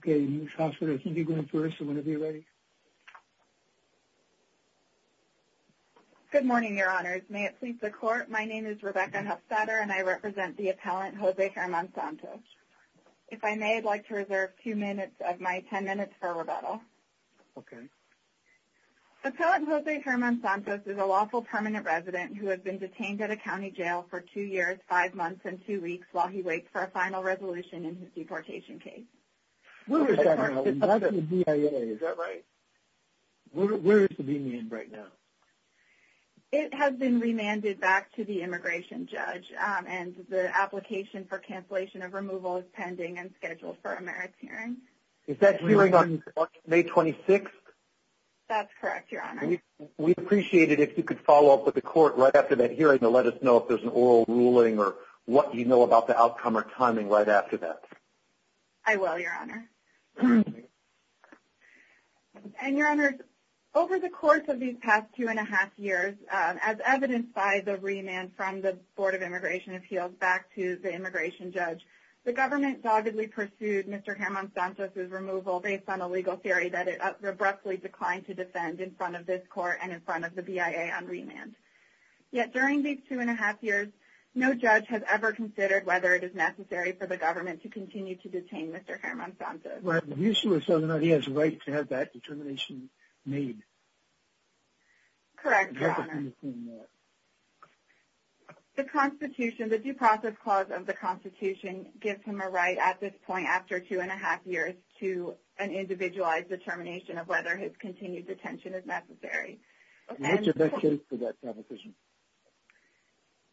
Good morning, your honors. May it please the court, my name is Rebecca Huffstadter and I represent the appellant Jose Herman Santos. If I may, I'd like to reserve two minutes of my ten minutes for rebuttal. Okay. Appellant Jose Herman Santos is a lawful permanent resident who has been detained at a county jail for two years, five months, and two weeks while he waits for a final resolution in his deportation case. Where is that now? I thought that was DIA, is that right? Where is it being in right now? It has been remanded back to the immigration judge and the application for cancellation of removal is pending and scheduled for a merits hearing. Is that hearing on May 26th? That's correct, your honor. We'd appreciate it if you could follow up with the court right after that hearing to let us know if there's an oral ruling or what you know about the outcome or timing right after that. I will, your honor. And your honors, over the course of these past two and a half years, as evidenced by the remand from the Board of Immigration Appeals back to the immigration judge, the government doggedly pursued Mr. Herman Santos' removal based on a legal theory that it abruptly declined to defend in front of this court and in front of the BIA on remand. Yet during these two and a half years, no judge has ever considered whether it is necessary for the government to continue to detain Mr. Herman Santos. Well, the issue is whether or not he has a right to have that determination made. Correct, your honor. The due process clause of the Constitution gives him a right at this point after two and a half years to an individualized determination of whether his continued detention is necessary. And which of those cases did that competition?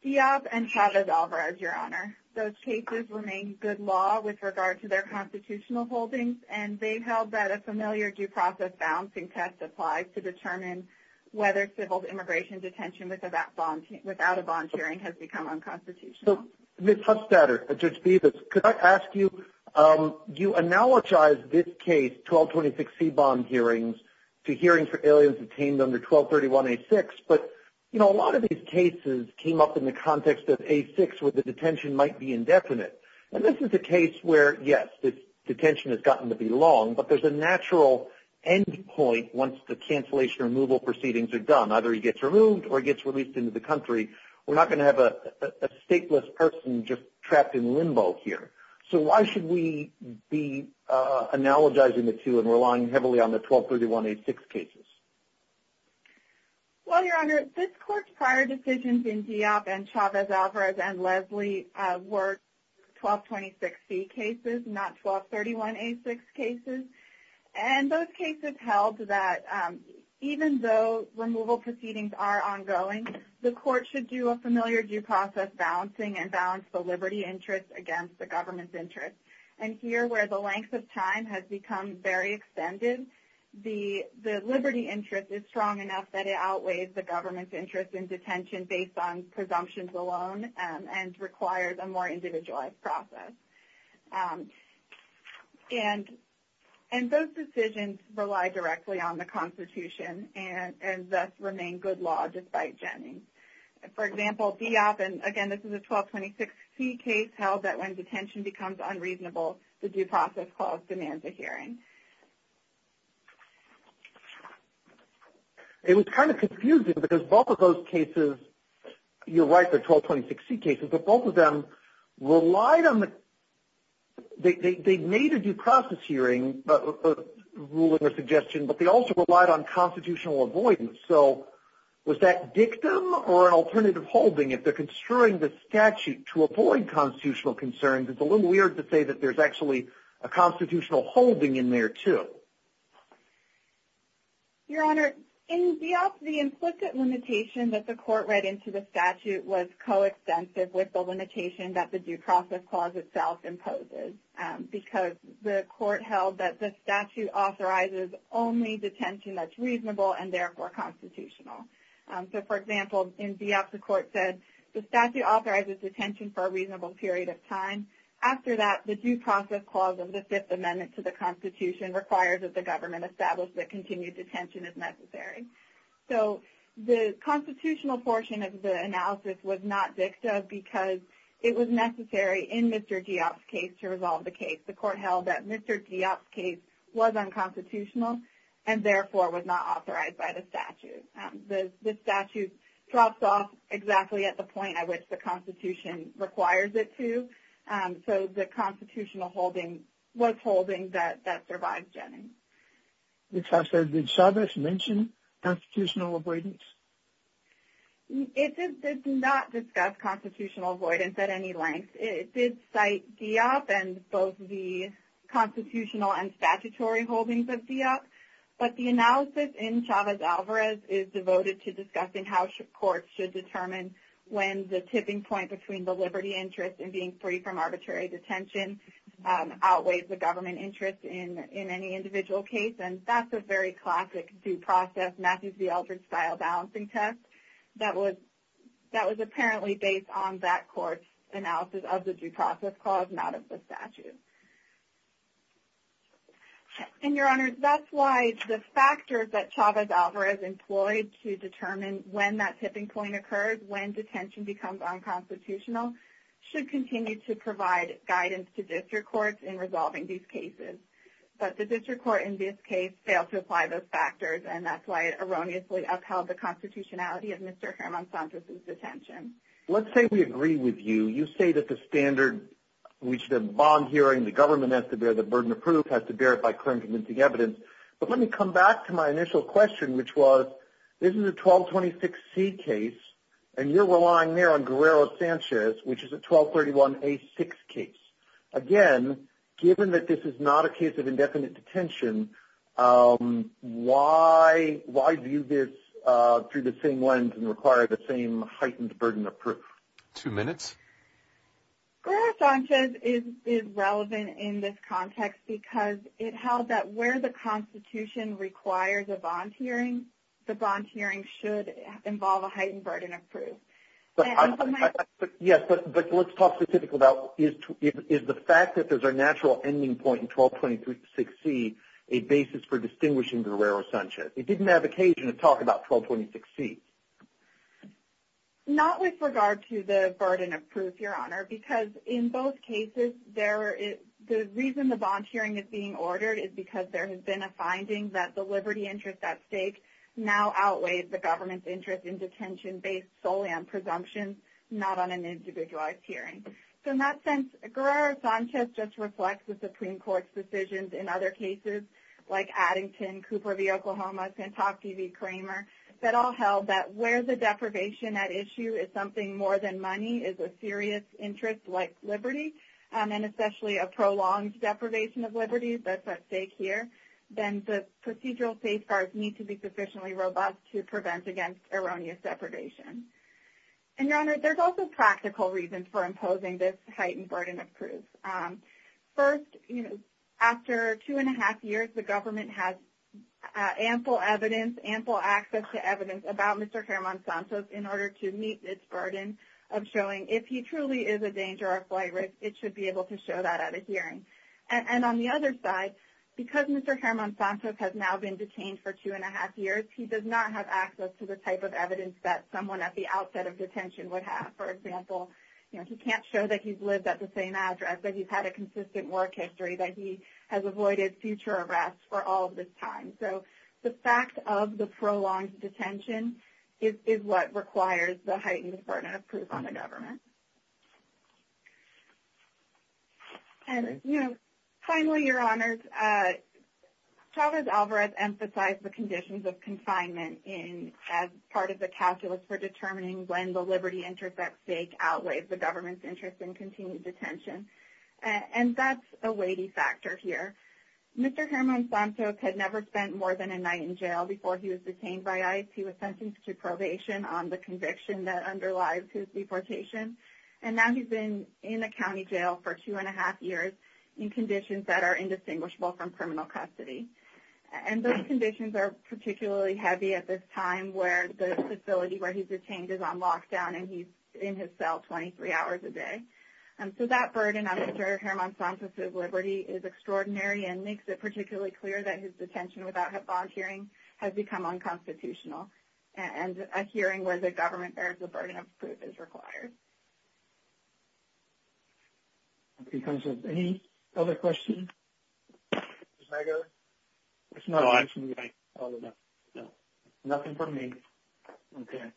Diop and Chavez-Alvarez, your honor. Those cases remain good law with regard to their constitutional holdings, and they've held that a familiar due process balancing test applies to determine whether civil immigration detention without a bond hearing has become unconstitutional. Ms. Hustadter, Judge Bevis, could I ask you, you analogize this case, 1226C bond hearings, to hearings for aliens detained under 1231A6, but a lot of these cases came up in the context of A6 where the detention might be indefinite. And this is a case where, yes, detention has gotten to be long, but there's a natural end point once the cancellation removal proceedings are done. Either he gets removed or he gets released into the country. We're not going to have a stateless person just trapped in limbo here. So why should we be analogizing the two and relying heavily on the 1231A6 cases? Well, your honor, this court's prior decisions in Diop and Chavez-Alvarez and Leslie were 1226C cases, not 1231A6 cases. And those cases held that even though removal proceedings are ongoing, the court should do a familiar due process balancing and balance the liberty interest against the government's interest. And here, where the length of time has become very extended, the liberty interest is strong enough that it outweighs the government's interest in detention based on presumptions alone and requires a more individualized process. And those decisions rely directly on the Constitution and thus remain good law despite Jennings. For example, Diop, and again, this is a 1226C case, held that when detention becomes unreasonable, the due process clause demands a hearing. It was kind of confusing because both of those cases, you're right, they're 1226C cases, but both of them relied on the – they made a due process hearing ruling or suggestion, but they also relied on constitutional avoidance. So was that dictum or an alternative holding? If they're construing the statute to avoid constitutional concerns, it's a little weird to say that there's actually a constitutional holding in there too. Your Honor, in Diop, the implicit limitation that the court read into the statute was coextensive with the limitation that the due process clause itself imposes because the court held that the statute authorizes only detention that's reasonable and therefore constitutional. So, for example, in Diop, the court said the statute authorizes detention for a reasonable period of time. After that, the due process clause of the Fifth Amendment to the Constitution requires that the government establish that continued detention is necessary. So the constitutional portion of the analysis was not dictum because it was necessary in Mr. Diop's case to resolve the case. The court held that Mr. Diop's case was unconstitutional and therefore was not authorized by the statute. The statute drops off exactly at the point at which the Constitution requires it to. So the constitutional holding was holding that survived Jennings. Your Honor, did Chavez mention constitutional avoidance? It did not discuss constitutional avoidance at any length. It did cite Diop and both the constitutional and statutory holdings of Diop, but the analysis in Chavez-Alvarez is devoted to discussing how courts should determine when the tipping point between the liberty interest and being free from arbitrary detention outweighs the government interest in any individual case, and that's a very classic due process, Matthews v. Eldridge-style balancing test that was apparently based on that court's analysis of the due process clause, not of the statute. And, Your Honor, that's why the factors that Chavez-Alvarez employed to determine when that tipping point occurred, when detention becomes unconstitutional, should continue to provide guidance to district courts in resolving these cases. But the district court in this case failed to apply those factors, and that's why it erroneously upheld the constitutionality of Mr. Herman Santos' detention. Let's say we agree with you. You say that the standard which the bond hearing, the government has to bear, the burden of proof has to bear it by current convincing evidence. But let me come back to my initial question, which was, this is a 1226C case, and you're relying there on Guerrero-Sanchez, which is a 1231A6 case. Again, given that this is not a case of indefinite detention, why view this through the same lens and require the same heightened burden of proof? Two minutes. Guerrero-Sanchez is relevant in this context because it held that where the constitution requires a bond hearing, the bond hearing should involve a heightened burden of proof. Yes, but let's talk specifically about is the fact that there's a natural ending point in 1226C a basis for distinguishing Guerrero-Sanchez? It didn't have occasion to talk about 1226C. Not with regard to the burden of proof, Your Honor, because in both cases, the reason the bond hearing is being ordered is because there has been a finding that the liberty interest at stake now outweighs the government's interest in detention-based solely on presumptions, not on an individualized hearing. So in that sense, Guerrero-Sanchez just reflects the Supreme Court's decisions in other cases, like Addington, Cooper v. Oklahoma, Santofi v. Kramer, that all held that where the deprivation at issue is something more than money is a serious interest like liberty, and especially a prolonged deprivation of liberty that's at stake here, then the procedural safeguards need to be sufficiently robust to prevent against erroneous deprivation. And, Your Honor, there's also practical reasons for imposing this heightened burden of proof. First, after two and a half years, the government has ample evidence, ample access to evidence about Mr. Germán Santos in order to meet its burden of showing if he truly is a danger or a flight risk, it should be able to show that at a hearing. And on the other side, because Mr. Germán Santos has now been detained for two and a half years, he does not have access to the type of evidence that someone at the outset of detention would have. For example, he can't show that he's lived at the same address, that he's had a consistent work history, that he has avoided future arrests for all of this time. So the fact of the prolonged detention is what requires the heightened burden of proof on the government. And, you know, finally, Your Honors, Chavez-Alvarez emphasized the conditions of confinement as part of the calculus for determining when the liberty interest at stake outweighs the government's interest in continued detention. And that's a weighty factor here. Mr. Germán Santos had never spent more than a night in jail before he was detained by ICE. He was sentenced to probation on the conviction that underlies his deportation. And now he's in a county jail for two and a half years in conditions that are indistinguishable from criminal custody. And those conditions are particularly heavy at this time where the facility where he's detained is on lockdown and he's in his cell 23 hours a day. So that burden on Mr. Germán Santos' liberty is extraordinary and makes it particularly clear that his detention without volunteering has become unconstitutional. And a hearing where the government bears the burden of proof is required. Any other questions? Mr. Zegar? No, I'm fine. Nothing for me. Okay.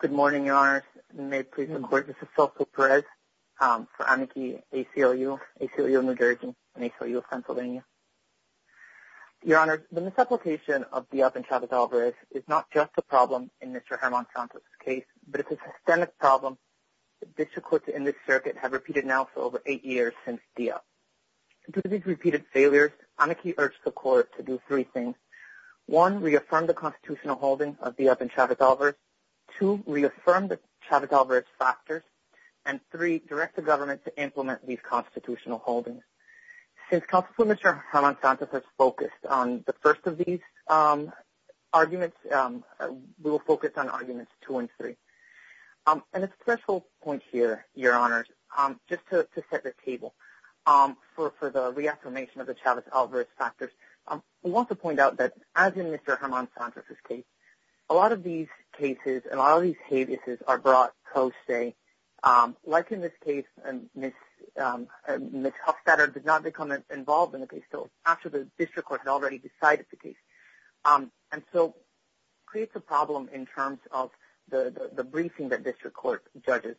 Good morning, Your Honors. May it please the Court, this is Cecil Perez for Amici ACLU, ACLU of New Jersey and ACLU of Pennsylvania. Your Honors, the misapplication of Dieppe and Chavez-Alvarez is not just a problem in Mr. Germán Santos' case, but it's a systemic problem that district courts in this circuit have repeated now for over eight years since Dieppe. Due to these repeated failures, Amici urged the Court to do three things. One, reaffirm the constitutional holding of Dieppe and Chavez-Alvarez. Two, reaffirm the Chavez-Alvarez factors. And three, direct the government to implement these constitutional holdings. Since Counsel for Mr. Germán Santos has focused on the first of these arguments, we will focus on arguments two and three. And a special point here, Your Honors, just to set the table for the reaffirmation of the Chavez-Alvarez factors, I want to point out that as in Mr. Germán Santos' case, a lot of these cases and a lot of these habeases are brought co-stay. Like in this case, Ms. Huffstetter did not become involved in the case until after the district court had already decided the case. And so it creates a problem in terms of the briefing that district court judges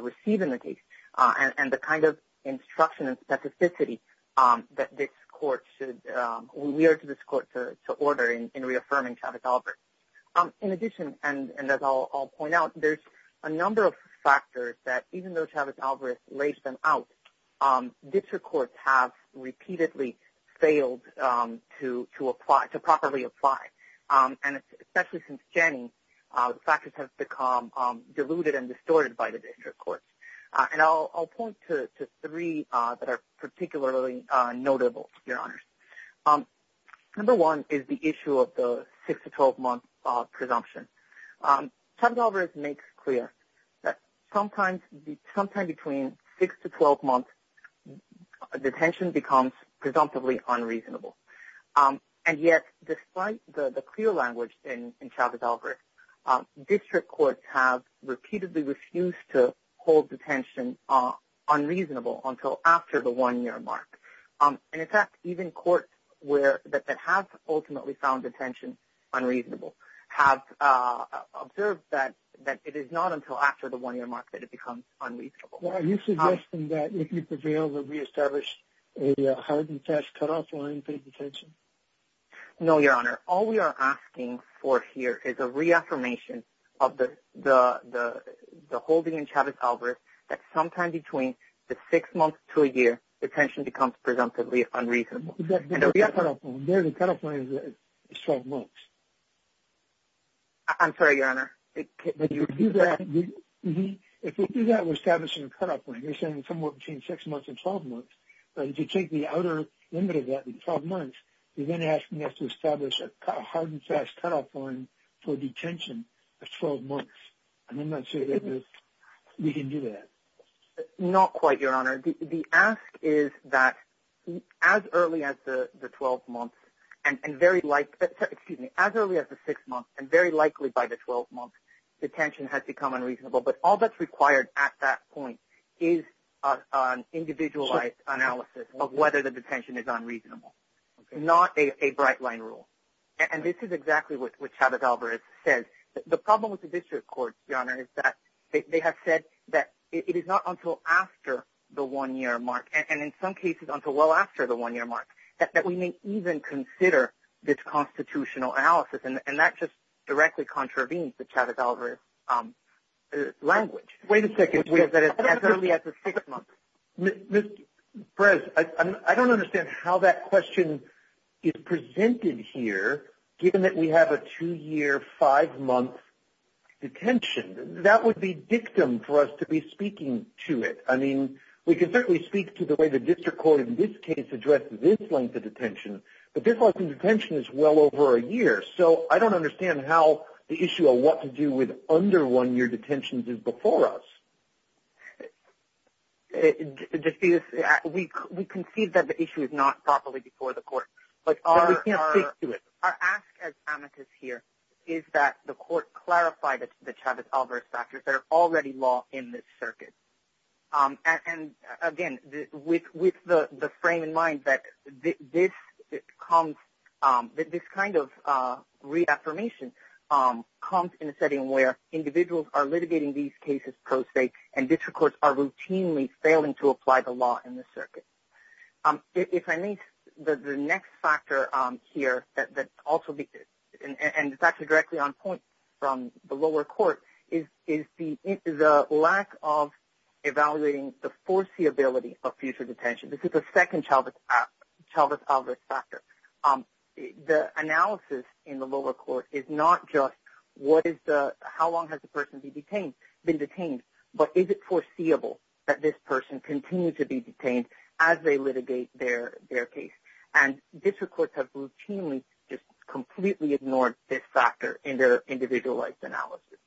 receive in the case and the kind of instruction and specificity that we urge this court to order in reaffirming Chavez-Alvarez. In addition, and as I'll point out, there's a number of factors that even though Chavez-Alvarez lays them out, district courts have repeatedly failed to properly apply. And especially since Janney, the factors have become diluted and distorted by the district courts. And I'll point to three that are particularly notable, Your Honors. Number one is the issue of the six to 12-month presumption. Chavez-Alvarez makes clear that sometimes between six to 12 months, detention becomes presumptively unreasonable. And yet, despite the clear language in Chavez-Alvarez, district courts have repeatedly refused to hold detention unreasonable until after the one-year mark. And in fact, even courts that have ultimately found detention unreasonable have observed that it is not until after the one-year mark that it becomes unreasonable. Are you suggesting that if you prevail, we'll reestablish a hard and fast cutoff for unpaid detention? No, Your Honor. All we are asking for here is a reaffirmation of the holding in Chavez-Alvarez that sometime between the six months to a year, detention becomes presumptively unreasonable. The cutoff point is 12 months. I'm sorry, Your Honor. If we do that, we're establishing a cutoff point. You're saying somewhere between six months and 12 months. But if you take the outer limit of that, the 12 months, you're then asking us to establish a hard and fast cutoff point for detention of 12 months. And I'm not sure that we can do that. Not quite, Your Honor. The ask is that as early as the six months and very likely by the 12 months, detention has become unreasonable. But all that's required at that point is an individualized analysis of whether the detention is unreasonable, not a bright-line rule. And this is exactly what Chavez-Alvarez says. The problem with the district court, Your Honor, is that they have said that it is not until after the one-year mark, and in some cases until well after the one-year mark, that we may even consider this constitutional analysis. And that just directly contravenes the Chavez-Alvarez language. Wait a second. As early as the six months. Ms. Perez, I don't understand how that question is presented here, given that we have a two-year, five-month detention. That would be dictum for us to be speaking to it. I mean, we can certainly speak to the way the district court in this case addresses this length of detention. But this length of detention is well over a year, so I don't understand how the issue of what to do with under-one-year detentions is before us. Justice, we concede that the issue is not properly before the court. But we can't speak to it. Our ask as amicus here is that the court clarify the Chavez-Alvarez factors that are already law in this circuit. And, again, with the frame in mind that this kind of reaffirmation comes in a setting where individuals are litigating these cases pro se and district courts are routinely failing to apply the law in this circuit. If I may, the next factor here, and it's actually directly on point from the lower court, is the lack of evaluating the foreseeability of future detention. This is the second Chavez-Alvarez factor. The analysis in the lower court is not just how long has the person been detained, but is it foreseeable that this person continues to be detained as they litigate their case. And district courts have routinely just completely ignored this factor in their individualized analysis.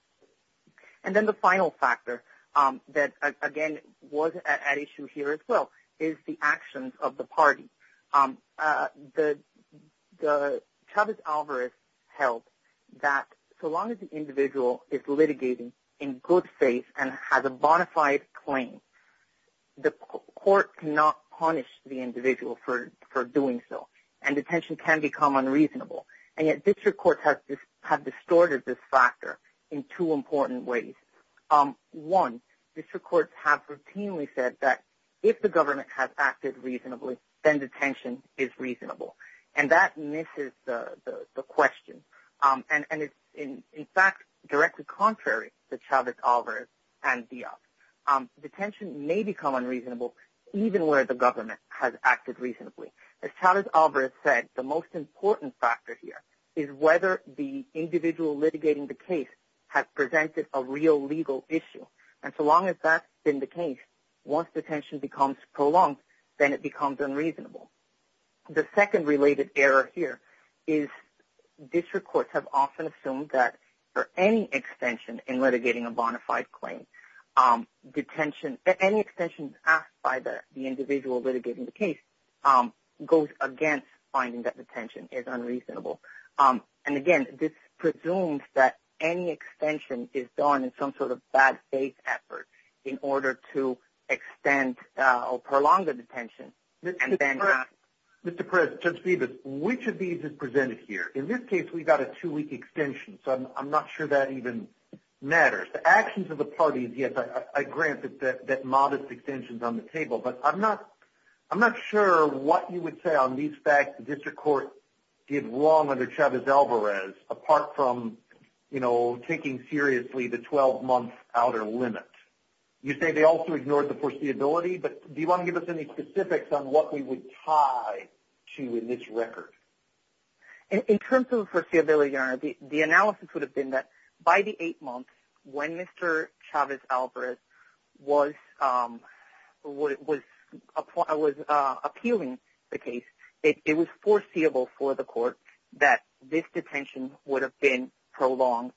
And then the final factor that, again, was at issue here as well is the actions of the party. The Chavez-Alvarez held that so long as the individual is litigating in good faith and has a bona fide claim, the court cannot punish the individual for doing so, and detention can become unreasonable. And yet district courts have distorted this factor in two important ways. One, district courts have routinely said that if the government has acted reasonably, then detention is reasonable. And that misses the question. And it's, in fact, directly contrary to Chavez-Alvarez and Diaz. Detention may become unreasonable even where the government has acted reasonably. As Chavez-Alvarez said, the most important factor here is whether the individual litigating the case has presented a real legal issue. And so long as that's been the case, once detention becomes prolonged, then it becomes unreasonable. The second related error here is district courts have often assumed that for any extension in litigating a bona fide claim, any extension asked by the individual litigating the case goes against finding that detention is unreasonable. And, again, this presumes that any extension is done in some sort of bad faith effort in order to extend or prolong the detention. Mr. Perez, Judge Phoebus, which of these is presented here? In this case, we've got a two-week extension, so I'm not sure that even matters. The actions of the parties, yes, I grant that modest extension is on the table, but I'm not sure what you would say on these facts the district court did wrong under Chavez-Alvarez apart from, you know, taking seriously the 12-month outer limit. You say they also ignored the foreseeability, but do you want to give us any specifics on what we would tie to in this record? In terms of foreseeability, Your Honor, the analysis would have been that by the eight months when Mr. Chavez-Alvarez was appealing the case, it was foreseeable for the court that this detention would have been prolonged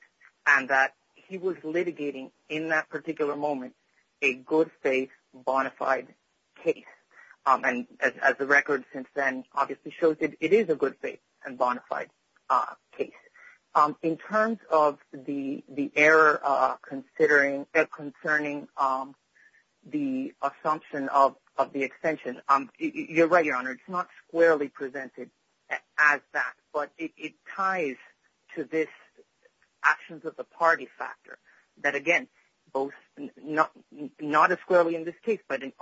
and that he was litigating in that particular moment a good faith bona fide case. And as the record since then obviously shows, it is a good faith and bona fide case. In terms of the error concerning the assumption of the extension, you're right, Your Honor, it's not squarely presented as that, but it ties to this actions of the party factor that, again, not as squarely in this case, but in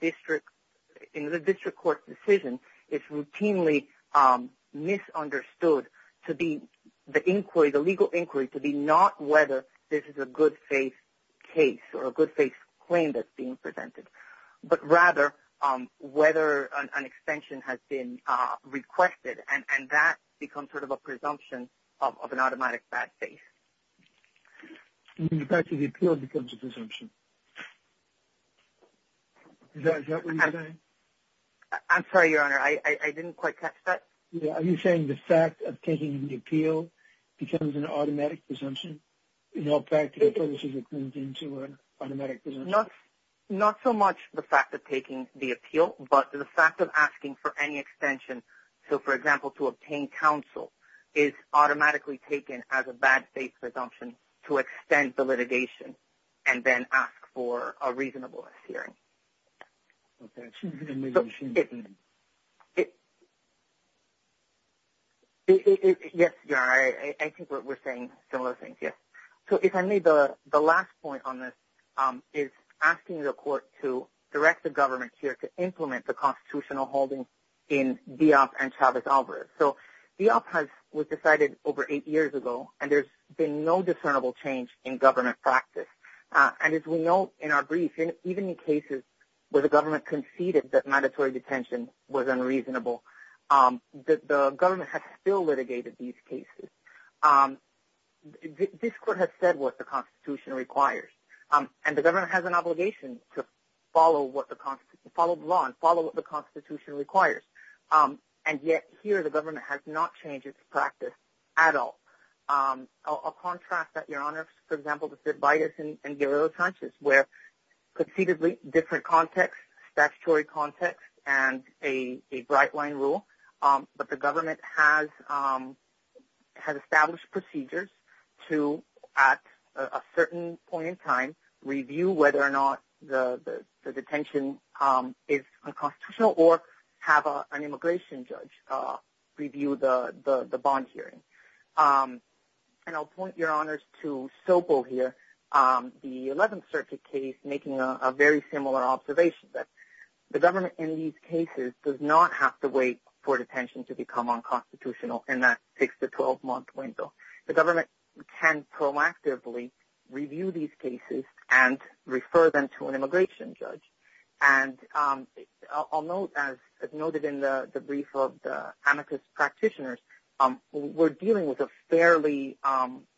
the district court's decision it's routinely misunderstood to be the inquiry, the legal inquiry, to be not whether this is a good faith case or a good faith claim that's being presented, but rather whether an extension has been requested. And that becomes sort of a presumption of an automatic bad faith. In fact, the appeal becomes a presumption. Is that what you're saying? I'm sorry, Your Honor. I didn't quite catch that. Are you saying the fact of taking the appeal becomes an automatic presumption? Not so much the fact of taking the appeal, but the fact of asking for any extension. So, for example, to obtain counsel is automatically taken as a bad faith presumption to extend the litigation and then ask for a reasonableness hearing. Okay. So, yes, Your Honor, I think we're saying similar things, yes. So, if I may, the last point on this is asking the court to direct the government here to implement the constitutional holdings in Diop and Chavez-Alvarez. So, Diop was decided over eight years ago, and there's been no discernible change in government practice. And as we know in our brief, even in cases where the government conceded that mandatory detention was unreasonable, the government has still litigated these cases. This court has said what the Constitution requires, and the government has an obligation to follow the law and follow what the Constitution requires. And yet here the government has not changed its practice at all. I'll contrast that, Your Honor, for example, with Vitus and Guerrero-Sanchez, where conceivably different context, statutory context, and a bright-line rule, but the government has established procedures to, at a certain point in time, review whether or not the detention is unconstitutional or have an immigration judge review the bond hearing. And I'll point, Your Honors, to Sobel here, the 11th Circuit case, making a very similar observation that the government in these cases does not have to wait for detention to become unconstitutional, and that takes the 12-month window. The government can proactively review these cases and refer them to an immigration judge. And I'll note, as noted in the brief of the amicus practitioners, we're dealing with a fairly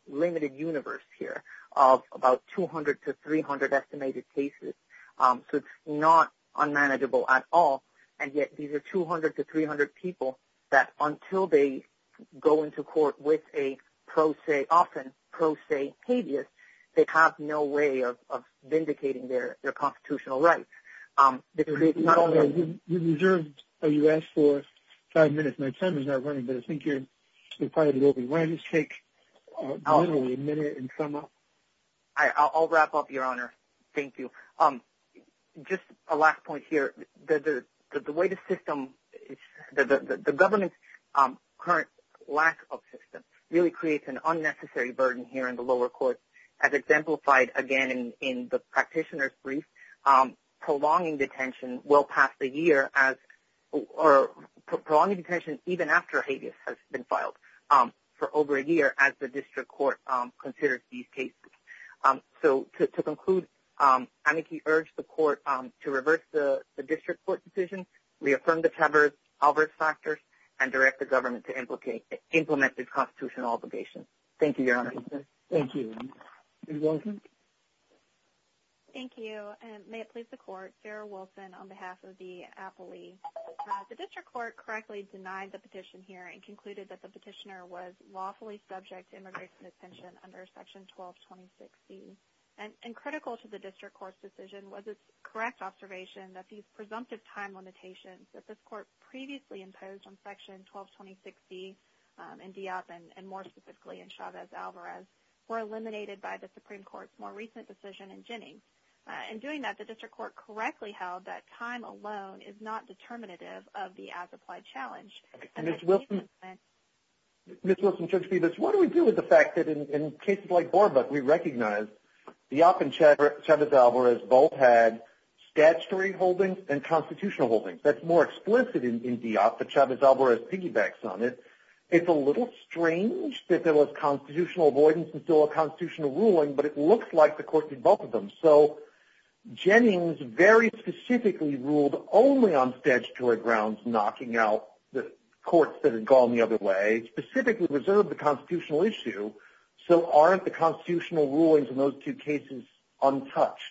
limited universe here of about 200 to 300 estimated cases. So it's not unmanageable at all, and yet these are 200 to 300 people that until they go into court with a often pro se habeas, they have no way of vindicating their constitutional rights. Not only... Your Honor, you reserved a U.S. for five minutes. My time is not running, but I think you're required to open. Why don't you just take literally a minute and sum up? I'll wrap up, Your Honor. Thank you. Just a last point here. The way the system... The government's current lack of systems really creates an unnecessary burden here in the lower courts. As exemplified, again, in the practitioners' brief, prolonging detention well past the year as... Or prolonging detention even after habeas has been filed for over a year as the district court considers these cases. So to conclude, I urge the court to reverse the district court decision, reaffirm the adverse factors, and direct the government to implement its constitutional obligations. Thank you, Your Honor. Thank you. Ms. Wilson? Thank you. May it please the Court. Sarah Wilson on behalf of the appellee. The district court correctly denied the petition here and concluded that the petitioner was lawfully subject to under Section 122060. And critical to the district court's decision was its correct observation that these presumptive time limitations that this court previously imposed on Section 122060 in Diop and more specifically in Chavez-Alvarez were eliminated by the Supreme Court's more recent decision in Jennings. In doing that, the district court correctly held that time alone is not determinative of the as-applied challenge. Ms. Wilson, Judge Phoebus, what do we do with the fact that in cases like Borbuck we recognize Diop and Chavez-Alvarez both had statutory holdings and constitutional holdings? That's more explicit in Diop, but Chavez-Alvarez piggybacks on it. It's a little strange that there was constitutional avoidance and still a constitutional ruling, but it looks like the court did both of them. So Jennings very specifically ruled only on statutory grounds, knocking out the courts that had gone the other way, specifically reserved the constitutional issue. So aren't the constitutional rulings in those two cases untouched?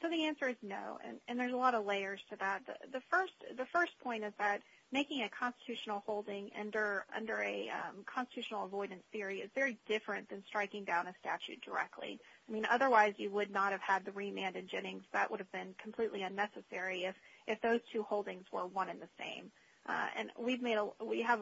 So the answer is no, and there's a lot of layers to that. The first point is that making a constitutional holding under a constitutional avoidance theory is very different than striking down a statute directly. I mean, otherwise you would not have had the remand in Jennings. That would have been completely unnecessary if those two holdings were one and the same. And we have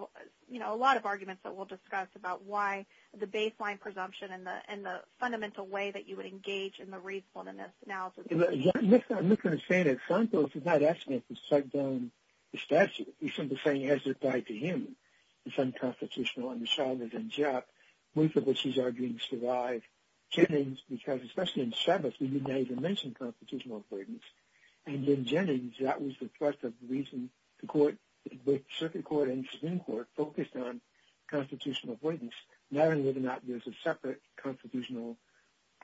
a lot of arguments that we'll discuss about why the baseline presumption and the fundamental way that you would engage in the reasonableness analysis. I'm just going to say that Santos is not asking us to strike down the statute. He's simply saying it has to apply to him. It's unconstitutional under Chavez and Diop, both of which he's arguing survive. Jennings, because especially in Chavez, we didn't even mention constitutional avoidance. And in Jennings, that was the thrust of the reason the circuit court and the Supreme Court focused on constitutional avoidance, knowing whether or not there's a separate constitutional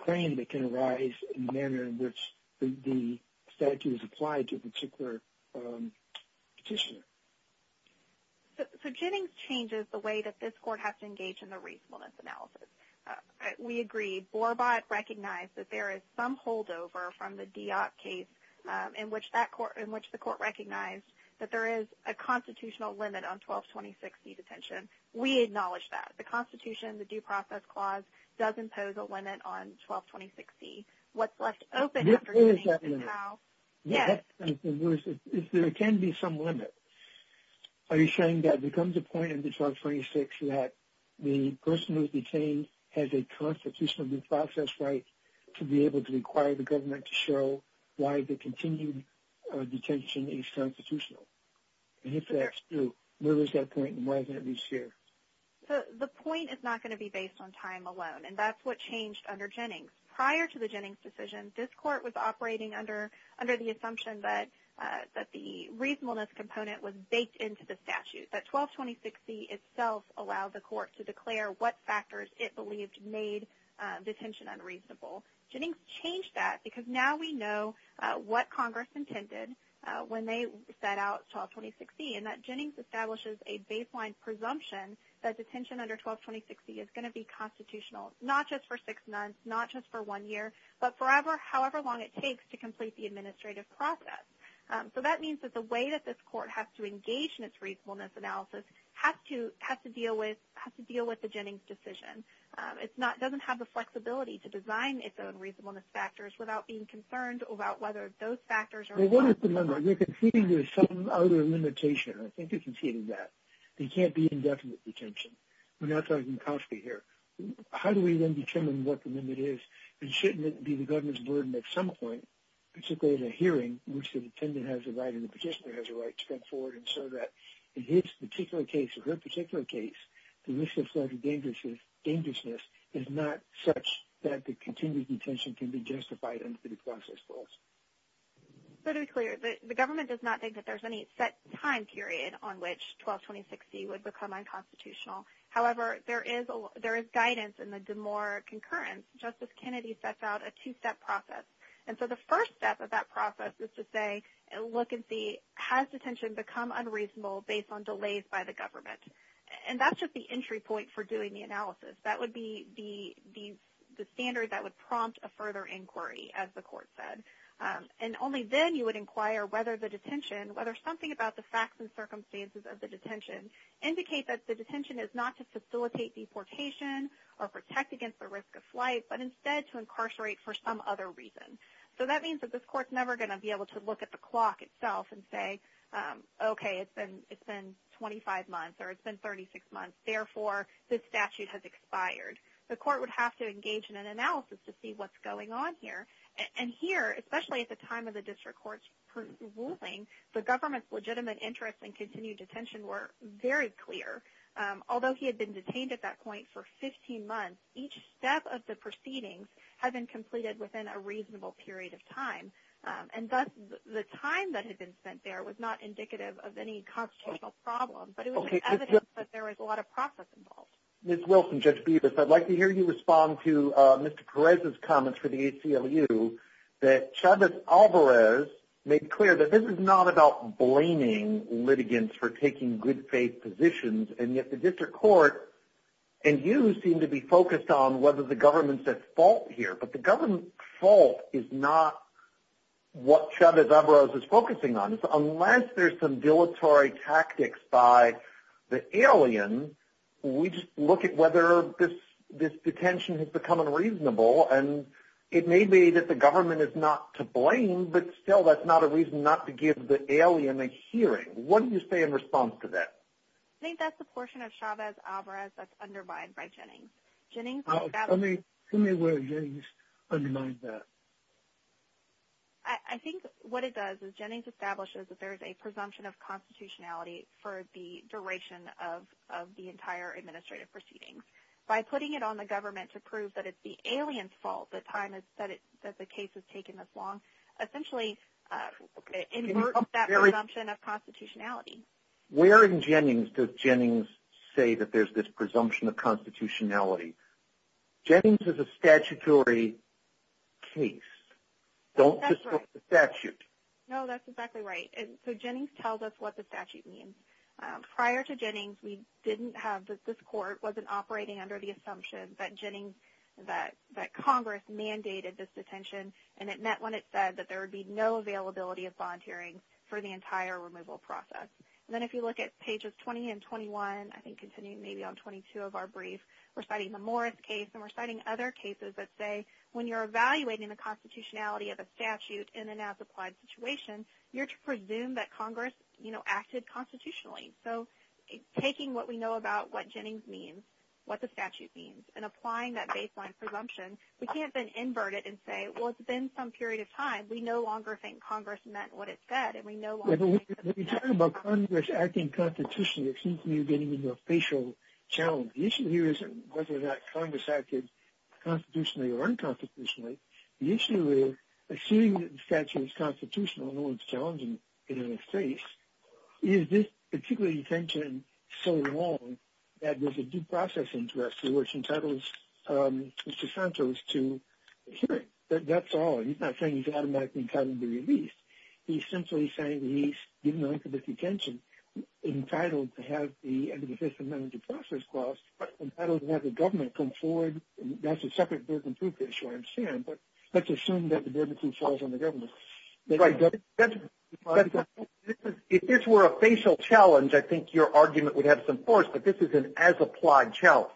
claim that can arise in the manner in which the statute is applied to a particular petitioner. So Jennings changes the way that this court has to engage in the reasonableness analysis. We agree. Borbott recognized that there is some holdover from the Diop case in which the court recognized that there is a constitutional limit on 1226C detention. We acknowledge that. The Constitution, the Due Process Clause, does impose a limit on 1226C. What's left open after Jennings is how – There is that limit. Yes. There can be some limit. Are you saying that it becomes a point in 1226 that the person who is detained has a constitutional due process right to be able to require the government to show why the continued detention is constitutional? And if that's true, where is that point and why is it not being shared? The point is not going to be based on time alone, and that's what changed under Jennings. Prior to the Jennings decision, this court was operating under the assumption that the reasonableness component was baked into the statute, that 1226C itself allowed the court to declare what factors it believed made detention unreasonable. Jennings changed that because now we know what Congress intended when they set out 1226C, and that Jennings establishes a baseline presumption that detention under 1226C is going to be constitutional, not just for six months, not just for one year, but for however long it takes to complete the administrative process. So that means that the way that this court has to engage in its reasonableness analysis has to deal with the Jennings decision. It doesn't have the flexibility to design its own reasonableness factors without being concerned about whether those factors are – Well, what is the number? You're conceding there's some other limitation. I think you conceded that. There can't be indefinite detention. How do we then determine what the limit is? And shouldn't it be the government's burden at some point, particularly at a hearing in which the defendant has a right and the petitioner has a right to come forward and show that in his particular case or her particular case, the risk of federal dangerousness is not such that the continued detention can be justified under the process clause? To be clear, the government does not think that there's any set time period on which 1226C would become unconstitutional. However, there is guidance in the Demore concurrence. Justice Kennedy sets out a two-step process. And so the first step of that process is to say, look and see, has detention become unreasonable based on delays by the government? And that's just the entry point for doing the analysis. That would be the standard that would prompt a further inquiry, as the court said. And only then you would inquire whether the detention, whether something about the facts and circumstances of the detention is not to facilitate deportation or protect against the risk of flight, but instead to incarcerate for some other reason. So that means that this court's never going to be able to look at the clock itself and say, okay, it's been 25 months or it's been 36 months, therefore this statute has expired. The court would have to engage in an analysis to see what's going on here. And here, especially at the time of the district court's ruling, the government's legitimate interest in continued clear. Although he had been detained at that point for 15 months, each step of the proceedings had been completed within a reasonable period of time. And thus the time that had been spent there was not indicative of any constitutional problem, but it was evidence that there was a lot of process involved. Ms. Wilson, Judge Bevis, I'd like to hear you respond to Mr. Perez's comments for the ACLU that Chavez-Alvarez made clear that this is not about blaming litigants for taking good faith positions, and yet the district court and you seem to be focused on whether the government's at fault here. But the government's fault is not what Chavez-Alvarez is focusing on. Unless there's some dilatory tactics by the alien, we just look at whether this detention has become unreasonable. And it may be that the government is not to blame, but still that's not a reason not to give the alien a hearing. What do you say in response to that? I think that's the portion of Chavez-Alvarez that's undermined by Jennings. Let me hear where Jennings undermines that. I think what it does is Jennings establishes that there is a presumption of constitutionality for the duration of the entire administrative proceedings. By putting it on the government to prove that it's the alien's fault that the case has taken this long, essentially inverts that presumption of constitutionality. Where in Jennings does Jennings say that there's this presumption of constitutionality? Jennings is a statutory case. Don't distort the statute. No, that's exactly right. So Jennings tells us what the statute means. Prior to Jennings, this court wasn't operating under the assumption that Congress mandated this detention, and it meant when it said that there would be no availability of bond hearings for the entire removal process. And then if you look at pages 20 and 21, I think continuing maybe on 22 of our brief, we're citing the Morris case, and we're citing other cases that say when you're evaluating the constitutionality of a statute in an as-applied situation, you're to presume that Congress, you know, acted constitutionally. So taking what we know about what Jennings means, what the statute means, and applying that baseline presumption, we can't then invert it and say, well, it's been some period of time. We no longer think Congress meant what it said, and we no longer think that the statute meant what it said. When you talk about Congress acting constitutionally, it seems to me you're getting into a facial challenge. The issue here isn't whether or not Congress acted constitutionally or unconstitutionally. The issue is assuming that the statute is constitutional and no one's challenging it in this case, is this particular detention so long that there's a due process interest, which entitles Mr. Santos to a hearing? That's all. He's not saying he's automatically entitled to be released. He's simply saying he's, given the length of this detention, entitled to have the end of the Fifth Amendment due process cost, entitled to have the government come forward. That's a separate burden of proof issue I understand, but let's assume that the burden falls on the government. If this were a facial challenge, I think your argument would have some force, but this is an as-applied challenge.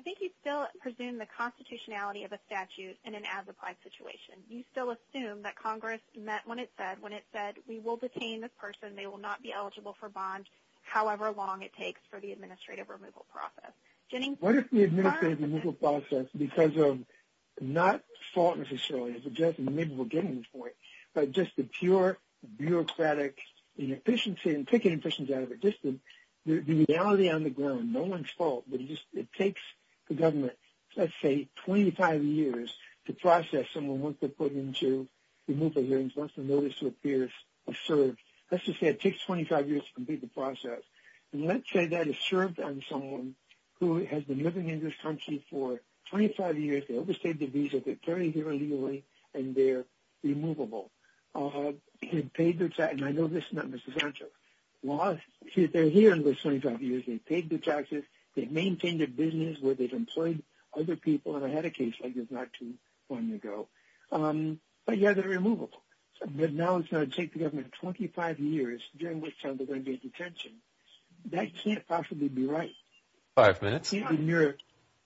I think you still presume the constitutionality of a statute in an as-applied situation. You still assume that Congress meant what it said when it said, we will detain this person. They will not be eligible for bond however long it takes for the administrative removal process. What if the administrative removal process, because of not fault necessarily, maybe we're getting to the point, but just the pure bureaucratic inefficiency and taking inefficiencies out of existence, the reality on the ground, no one's fault, but it takes the government, let's say, 25 years to process someone once they're put into removal hearings, once the notice of appearance is served. Let's just say it takes 25 years to complete the process. Let's say that it's served on someone who has been living in this country for 25 years, they overstayed their visa, they're carried here illegally, and they're removable. They've paid their taxes, and I know this is not Ms. DeSantis, they're here in those 25 years, they've paid their taxes, they've maintained their business, where they've employed other people, and I had a case like this not too long ago. But, yeah, they're removable. But now it's going to take the government 25 years during which time they're going to get detention. That can't possibly be right. Five minutes. It can't be mere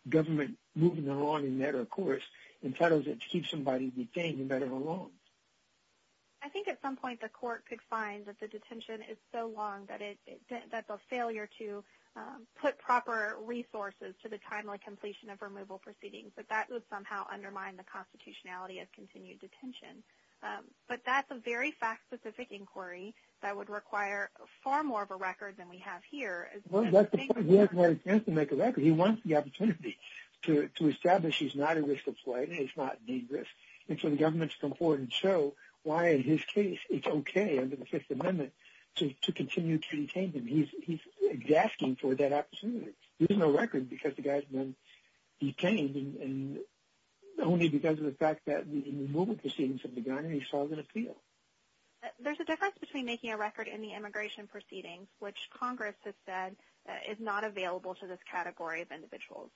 government moving along in that, of course, and trying to keep somebody detained and better along. I think at some point the court could find that the detention is so long that the failure to put proper resources to the timely completion of removal proceedings, that that would somehow undermine the constitutionality of continued detention. But that's a very fact-specific inquiry that would require far more of a record than we have here. Well, that's the point. He hasn't had a chance to make a record. He wants the opportunity to establish he's not at risk of flight, he's not at any risk. And so the government's come forward and show why, in his case, it's okay under the Fifth Amendment to continue to detain him. He's asking for that opportunity. There's no record because the guy's been detained, only because of the fact that the removal proceedings have begun and he's solved an appeal. There's a difference between making a record in the immigration proceedings, which Congress has said is not available to this category of individuals.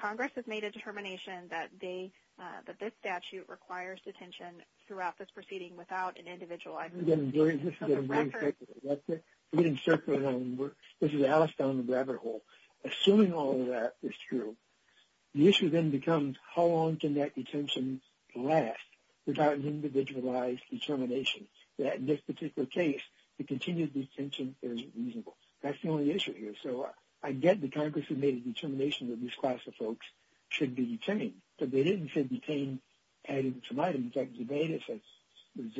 Congress has made a determination that this statute requires detention throughout this proceeding without an individualized record. I'm getting circular now. This is Alice down the rabbit hole. Assuming all of that is true, the issue then becomes how long can that detention last without an individualized determination, that in this particular case, the continued detention is reasonable. That's the only issue here. So I get that Congress has made a determination that this class of folks should be detained, but they didn't say detained added to some items. In fact, Zebaitis, I guess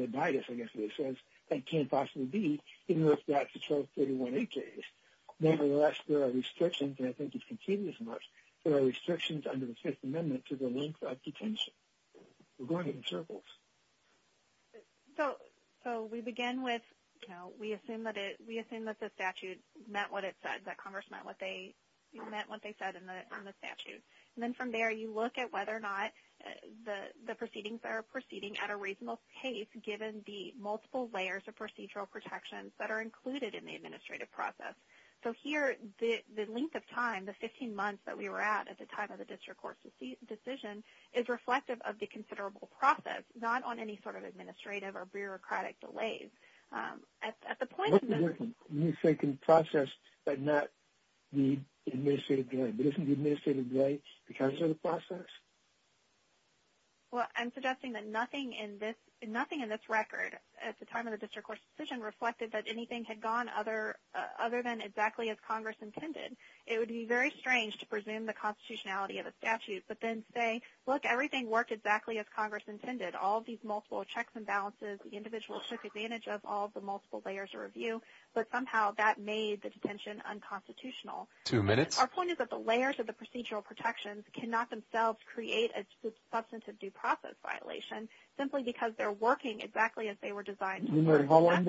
the way it says, that can't possibly be even if that's the 1231A case. Nevertheless, there are restrictions, and I think it's continued as much, there are restrictions under the Fifth Amendment to the length of detention. We're going in circles. So we begin with we assume that the statute meant what it said, that Congress meant what they said in the statute. And then from there, you look at whether or not the proceedings are proceeding at a reasonable pace, given the multiple layers of procedural protections that are included in the administrative process. So here the length of time, the 15 months that we were at, at the time of the district court's decision, is reflective of the considerable process, not on any sort of administrative or bureaucratic delays. What do you mean by process but not the administrative delay? Isn't the administrative delay because of the process? Well, I'm suggesting that nothing in this record at the time of the district court's decision reflected that anything had gone other than exactly as Congress intended. It would be very strange to presume the constitutionality of a statute, but then say, look, everything worked exactly as Congress intended. All of these multiple checks and balances, the individual took advantage of all of the multiple layers of review, but somehow that made the detention unconstitutional. Two minutes. Our point is that the layers of the procedural protections cannot themselves create a substantive due process violation, simply because they're working exactly as they were designed. No matter how long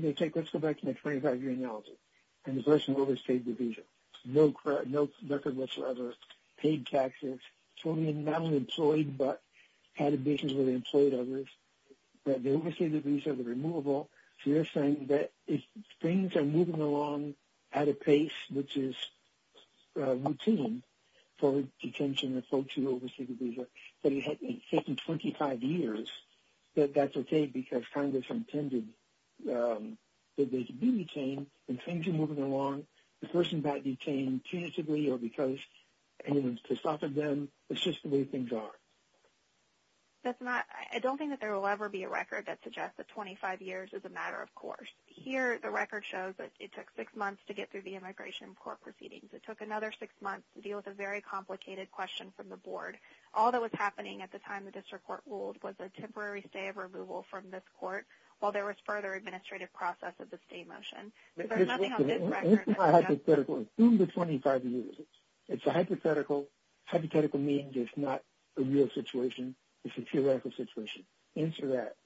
they take, let's go back to my 25-year analogy. In the first and oldest paid division, no record whatsoever, paid taxes, not only employed but had a division where they employed others, that they oversee the visa, the removal. So you're saying that if things are moving along at a pace which is routine for detention of folks who oversee the visa, that it had taken 25 years, that that's okay because Congress intended that they should be detained. When things are moving along, the person got detained tentatively or because to soften them, it's just the way things are. I don't think that there will ever be a record that suggests that 25 years is a matter of course. Here the record shows that it took six months to get through the immigration court proceedings. It took another six months to deal with a very complicated question from the board. All that was happening at the time the district court ruled was a temporary stay of removal from this court while there was further administrative process of the stay motion. It's not hypothetical. Assume the 25 years. It's a hypothetical. Hypothetical means it's not a real situation. It's a theoretical situation. Answer that.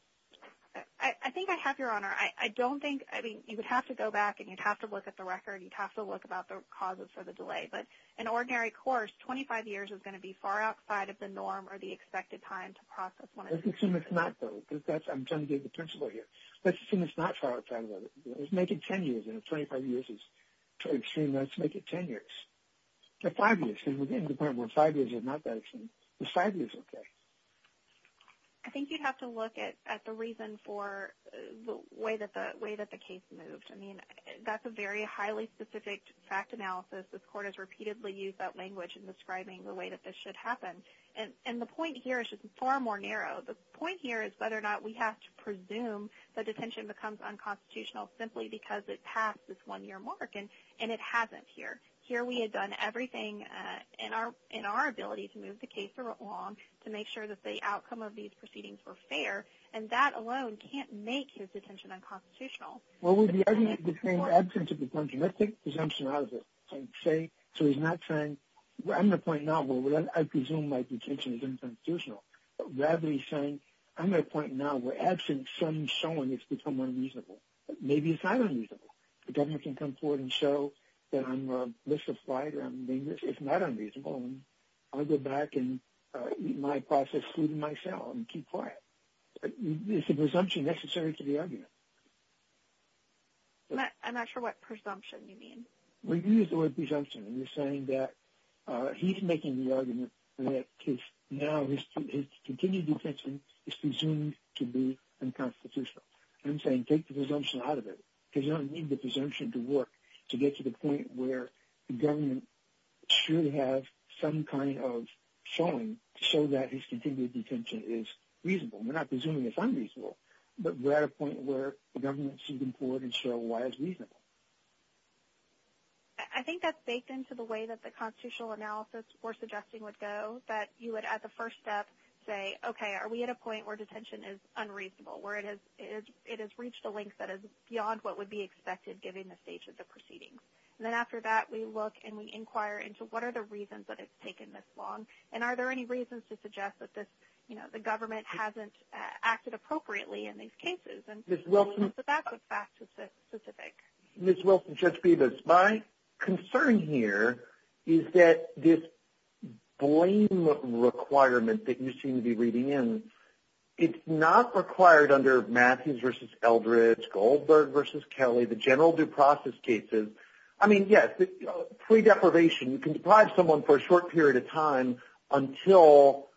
I think I have, Your Honor. I don't think, I mean, you would have to go back and you'd have to look at the record. You'd have to look about the causes for the delay. But in ordinary course, 25 years is going to be far outside of the norm or the expected time to process one of these cases. Let's assume it's not, though. I'm trying to be the principal here. Let's assume it's not far outside of it. Let's make it 10 years. And if 25 years is extreme, let's make it 10 years. Or five years. Because we're getting to the point where five years is not that extreme. Is five years okay? I think you'd have to look at the reason for the way that the case moved. I mean, that's a very highly specific fact analysis. This court has repeatedly used that language in describing the way that this should happen. And the point here is just far more narrow. The point here is whether or not we have to presume that detention becomes unconstitutional simply because it passed this one-year mark. And it hasn't here. Here we had done everything in our ability to move the case along, to make sure that the outcome of these proceedings were fair. And that alone can't make detention unconstitutional. Well, the argument between absence of detention, let's take presumption out of it. So he's not saying, I'm going to point now, I presume my detention is unconstitutional. Rather he's saying, I'm going to point now, where absent some showing it's become unreasonable. Maybe it's not unreasonable. The government can come forward and show that I'm misapplied or I'm dangerous. It's not unreasonable. I'll go back and eat my processed food in my cell and keep quiet. It's a presumption necessary to the argument. I'm not sure what presumption you mean. We've used the word presumption. We're saying that he's making the argument that now his continued detention is unconstitutional. I'm saying take the presumption out of it, because you don't need the presumption to work to get to the point where the government should have some kind of showing so that his continued detention is reasonable. We're not presuming it's unreasonable, but we're at a point where the government should come forward and show why it's reasonable. I think that's baked into the way that the constitutional analysis we're suggesting would go, that you would at the first step say, okay, are we at a point where detention is unreasonable, where it has reached a length that is beyond what would be expected given the stages of proceedings? Then after that we look and we inquire into what are the reasons that it's taken this long, and are there any reasons to suggest that the government hasn't acted appropriately in these cases? So that's what's back to specific. Ms. Wilson, Judge Bevis, my concern here is that this blame requirement that you seem to be reading in, it's not required under Matthews v. Eldridge, Goldberg v. Kelly, the general due process cases. I mean, yes, pre-deprivation, you can deprive someone for a short period of time until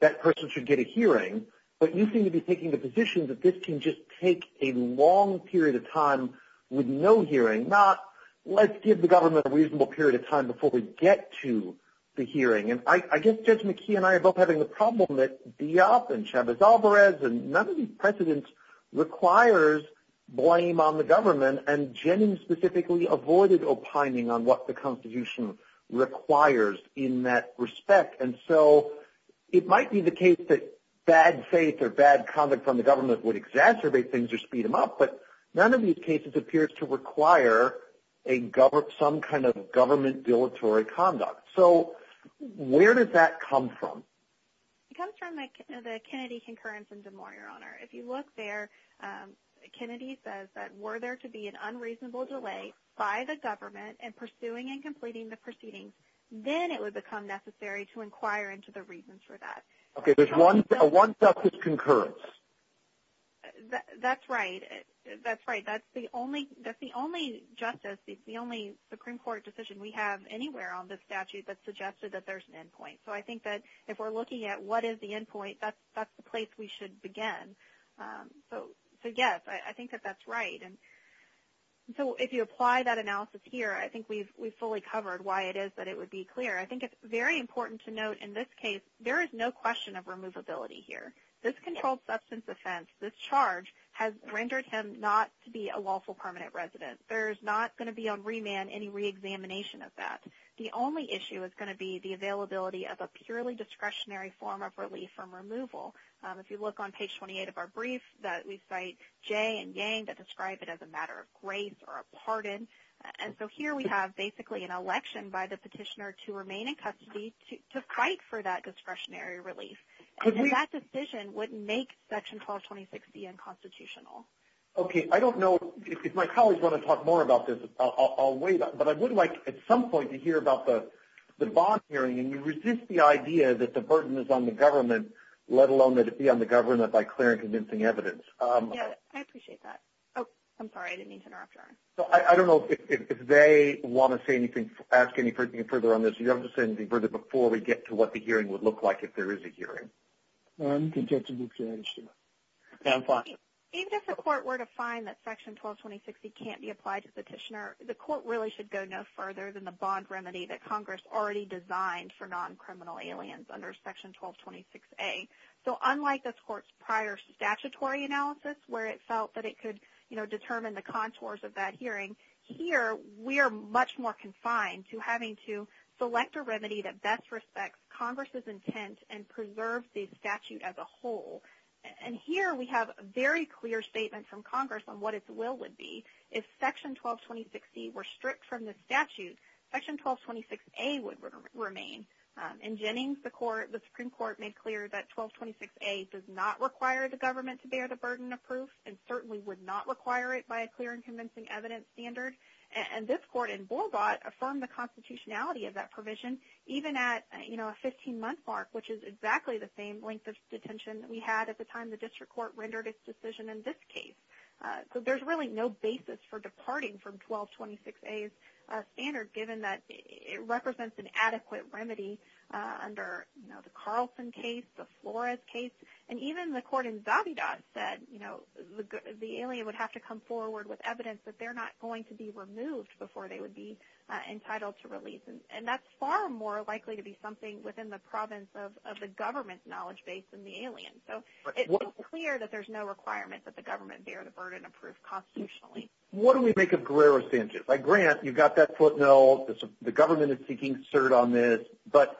that person should get a hearing, but you seem to be taking the position that this can just take a long period of time with no hearing, not let's give the government a reasonable period of time before we get to the hearing. And I guess Judge McKee and I are both having the problem that Diop and Chavez-Alvarez and none of these precedents requires blame on the government, and Jennings specifically avoided opining on what the Constitution requires in that respect. And so it might be the case that bad faith or bad conduct from the government would exacerbate things or speed them up, but none of these cases appears to require some kind of government dilatory conduct. So where does that come from? It comes from the Kennedy concurrence in Des Moines, Your Honor. If you look there, Kennedy says that were there to be an unreasonable delay by the government in pursuing and completing the proceedings, then it would become necessary to inquire into the reasons for that. Okay. There's one justice concurrence. That's right. That's right. That's the only justice, the only Supreme Court decision we have anywhere on this statute that suggested that there's an end point. So I think that if we're looking at what is the end point, that's the place we should begin. So, yes, I think that that's right. And so if you apply that analysis here, I think we've fully covered why it is that it would be clear. I think it's very important to note in this case there is no question of removability here. This controlled substance offense, this charge, has rendered him not to be a lawful permanent resident. There's not going to be on remand any reexamination of that. The only issue is going to be the availability of a purely discretionary form of relief from removal. If you look on page 28 of our brief, that we cite Jay and Yang that describe it as a matter of grace or a pardon. And so here we have basically an election by the petitioner to remain in custody to fight for that discretionary relief. And that decision would make Section 1226B unconstitutional. Okay. I don't know if my colleagues want to talk more about this. I'll wait. But I would like at some point to hear about the bond hearing. And you resist the idea that the burden is on the government, let alone that it be on the government by clear and convincing evidence. Yeah, I appreciate that. Oh, I'm sorry. I didn't mean to interrupt you. So I don't know if they want to say anything, ask anything further on this. You have to say anything further before we get to what the hearing would look like if there is a hearing. I'm content to move to that issue. Yeah, I'm fine. Even if the court were to find that Section 1226B can't be applied to the petitioner, the court really should go no further than the bond remedy that Congress already designed for non-criminal aliens under Section 1226A. So unlike this court's prior statutory analysis, where it felt that it could, you know, determine the contours of that hearing, here we are much more confined to having to select a remedy that best respects Congress's intent and preserves the statute as a whole. And here we have a very clear statement from Congress on what its will would be. If Section 1226C were stripped from the statute, Section 1226A would remain. In Jennings, the Supreme Court made clear that 1226A does not require the government to bear the burden of proof and certainly would not require it by a clear and convincing evidence standard. And this court in Borlaugt affirmed the constitutionality of that provision even at, you know, a 15-month mark, which is exactly the same length of detention that we had at the time the district court rendered its decision in this case. So there's really no basis for departing from 1226A's standard, given that it represents an adequate remedy under, you know, the Carlson case, the Flores case. And even the court in Zabida said, you know, the alien would have to come forward with evidence that they're not going to be removed before they would be entitled to release. And that's far more likely to be something within the province of the government's knowledge base than the alien. So it's clear that there's no requirement that the government bear the burden of proof constitutionally. What do we make of Guerrero-Sanchez? I grant you've got that footnote, the government is seeking cert on this. But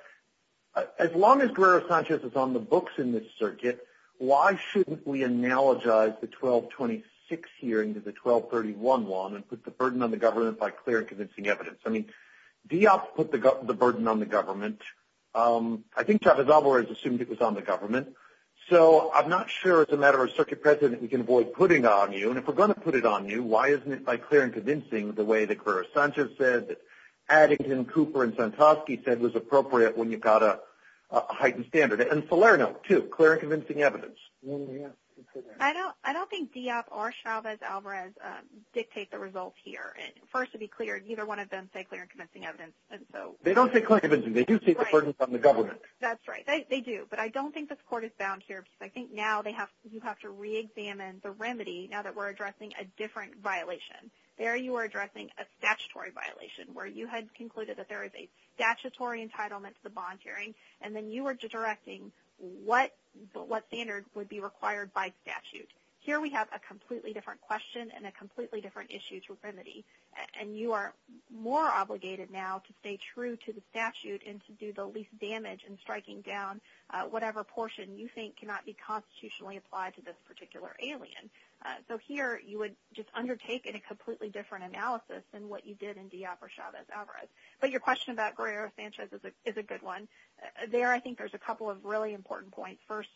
as long as Guerrero-Sanchez is on the books in this circuit, why shouldn't we analogize the 1226 hearing to the 1231 one and put the burden on the government by clear and convincing evidence? I mean, Diop put the burden on the government. I think Chavez-Alvarez assumed it was on the government. So I'm not sure as a matter of circuit precedent we can avoid putting on you. And if we're going to put it on you, why isn't it by clear and convincing the way that Guerrero-Sanchez said, Addington, Cooper, and Santosky said was appropriate when you've got a heightened standard. And Salerno, too, clear and convincing evidence. I don't think Diop or Chavez-Alvarez dictate the results here. First, to be clear, neither one of them say clear and convincing evidence. They don't say clear and convincing. They do state the burden is on the government. That's right. They do. But I don't think this court is bound here because I think now you have to re-examine the remedy now that we're addressing a different violation. There you are addressing a statutory violation where you had concluded that there is a statutory entitlement to the bond hearing, and then you were directing what standard would be required by statute. Here we have a completely different question and a completely different issue to remedy. And you are more obligated now to stay true to the statute and to do the least damage in striking down whatever portion you think cannot be constitutionally applied to this particular alien. So here you would just undertake a completely different analysis than what you did in Diop or Chavez-Alvarez. But your question about Guerrero-Sanchez is a good one. There I think there's a couple of really important points. First,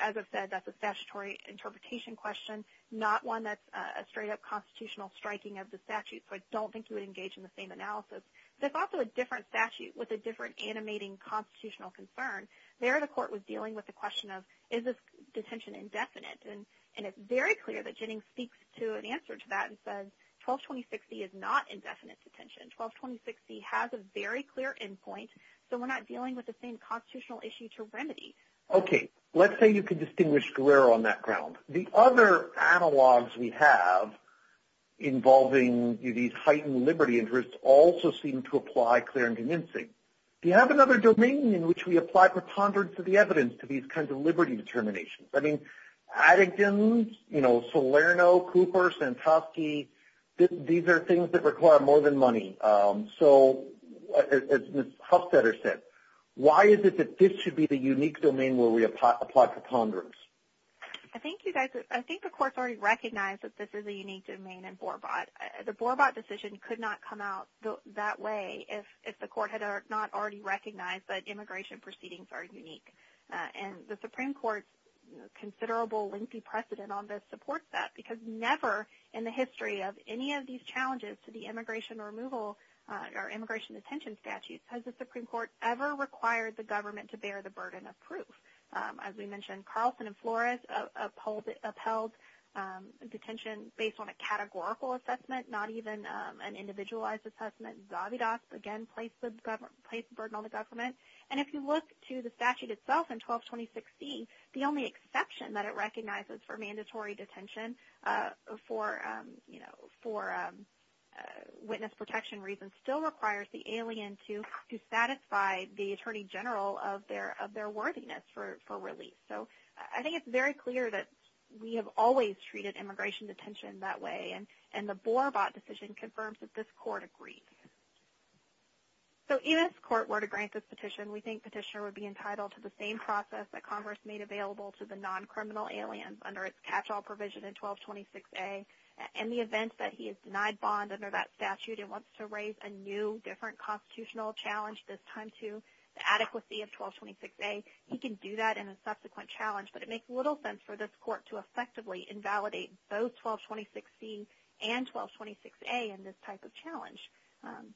as I've said, that's a statutory interpretation question, not one that's a straight-up constitutional striking of the statute. So I don't think you would engage in the same analysis. There's also a different statute with a different animating constitutional concern. There the court was dealing with the question of is this detention indefinite. And it's very clear that Jennings speaks to an answer to that and says 12-2060 is not indefinite detention. 12-2060 has a very clear endpoint, so we're not dealing with the same constitutional issue to remedy. Okay. Let's say you could distinguish Guerrero on that ground. The other analogs we have involving these heightened liberty interests also seem to apply clear and convincing. Do you have another domain in which we apply preponderance of the evidence to these kinds of liberty determinations? I mean, Atkins, Salerno, Cooper, Santosky, these are things that require more than money. So as Ms. Huffstetter said, why is it that this should be the unique domain where we apply preponderance? I think the court's already recognized that this is a unique domain in BORBOT. The BORBOT decision could not come out that way if the court had not already recognized that immigration proceedings are unique. And the Supreme Court's considerable lengthy precedent on this supports that because never in the history of any of these challenges to the immigration removal or immigration detention statutes has the Supreme Court ever required the government to bear the burden of proof. As we mentioned, Carlson and Flores upheld detention based on a categorical assessment, not even an individualized assessment. Zavidoff, again, placed the burden on the government. And if you look to the statute itself in 12-2016, the only exception that it recognizes for mandatory detention for witness protection reasons still requires the alien to satisfy the attorney general of their worthiness for release. So I think it's very clear that we have always treated immigration detention that way, and the BORBOT decision confirms that this court agrees. So even if the court were to grant this petition, we think Petitioner would be entitled to the same process that Congress made available to the non-criminal aliens under its catch-all provision in 12-26A. In the event that he is denied bond under that statute and wants to raise a new, different constitutional challenge, this time to the adequacy of 12-26A, he can do that in a subsequent challenge. But it makes little sense for this court to effectively invalidate both 12-26C and 12-26A in this type of challenge.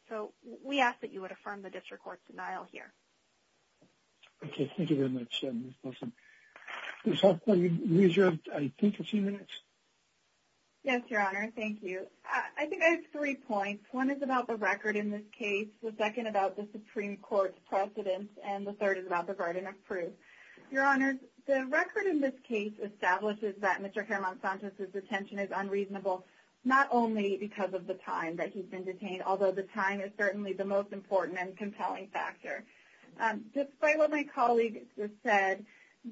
So we ask that you would affirm the district court's denial here. Okay. Thank you very much, Ms. Wilson. Ms. Hoffman, you have, I think, a few minutes. Yes, Your Honor. Thank you. I think I have three points. One is about the record in this case. The second about the Supreme Court's precedence. And the third is about the garden of proof. Your Honor, the record in this case establishes that Mr. Germont-Sanchez's detention is the most important and compelling factor. Despite what my colleague just said,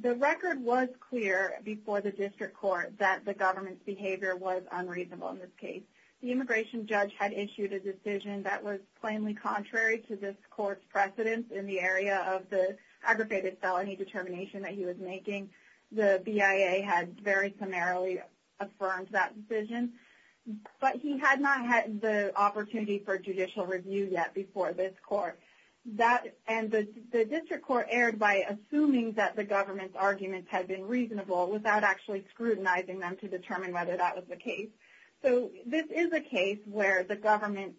the record was clear before the district court that the government's behavior was unreasonable in this case. The immigration judge had issued a decision that was plainly contrary to this court's precedence in the area of the aggravated felony determination that he was making. The BIA had very summarily affirmed that decision. But he had not had the opportunity for judicial review yet before this court. And the district court erred by assuming that the government's arguments had been reasonable without actually scrutinizing them to determine whether that was the case. So this is a case where the government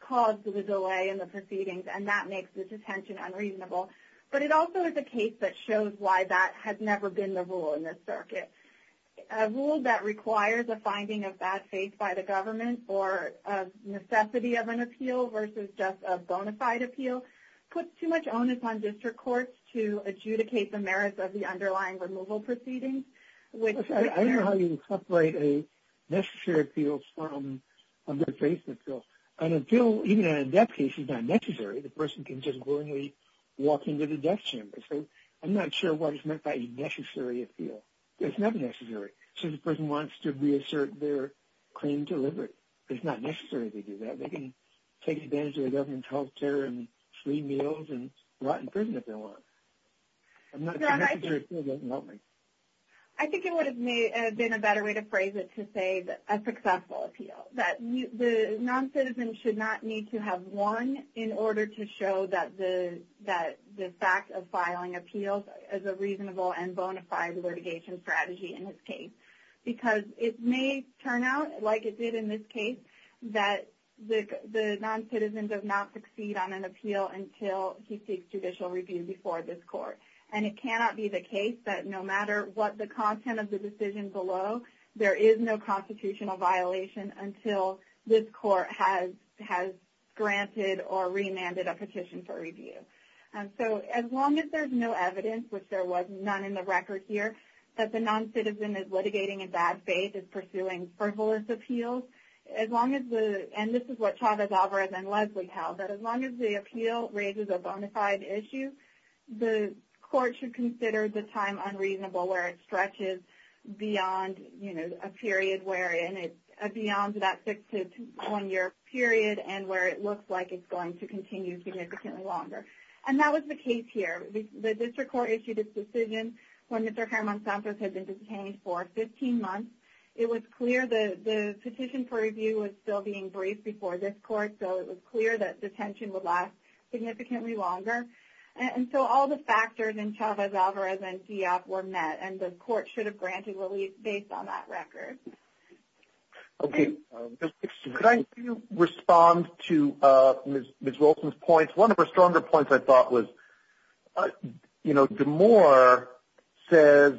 caused the delay in the proceedings, and that makes the detention unreasonable. But it also is a case that shows why that has never been the rule in this circuit. A rule that requires a finding of bad faith by the government or a necessity of an appeal versus just a bona fide appeal puts too much onus on district courts to adjudicate the merits of the underlying removal proceedings. I don't know how you separate a necessary appeal from a good faith appeal. An appeal, even in a death case, is not necessary. The person can just willingly walk into the death chamber. So I'm not sure what is meant by a necessary appeal. It's not necessary. So the person wants to reassert their claim to liberty. It's not necessary to do that. They can take advantage of the government's health care and free meals and rot in prison if they want. A necessary appeal doesn't help me. I think it would have been a better way to phrase it to say a successful appeal, that the noncitizen should not need to have one in order to show that the fact of filing appeals is a reasonable and bona fide litigation strategy in this case. Because it may turn out, like it did in this case, that the noncitizen does not succeed on an appeal until he seeks judicial review before this court. And it cannot be the case that no matter what the content of the decision below, there is no constitutional violation until this court has granted or remanded a petition for review. So as long as there's no evidence, which there was none in the record here, that the noncitizen is litigating in bad faith, is pursuing frivolous appeals, and this is what Chavez-Alvarez and Leslie held, that as long as the appeal raises a bona fide issue, the court should consider the time unreasonable where it stretches beyond, you know, a period where it's beyond that six to one year period and where it looks like it's going to continue significantly longer. And that was the case here. The district court issued its decision when Mr. Herman Santos had been detained for 15 months. It was clear the petition for review was still being briefed before this court, so it was clear that detention would last significantly longer. And so all the factors in Chavez-Alvarez and DF were met, and the court should have granted relief based on that record. Okay. Could I respond to Ms. Wilson's points? One of her stronger points, I thought, was, you know, DeMoore says,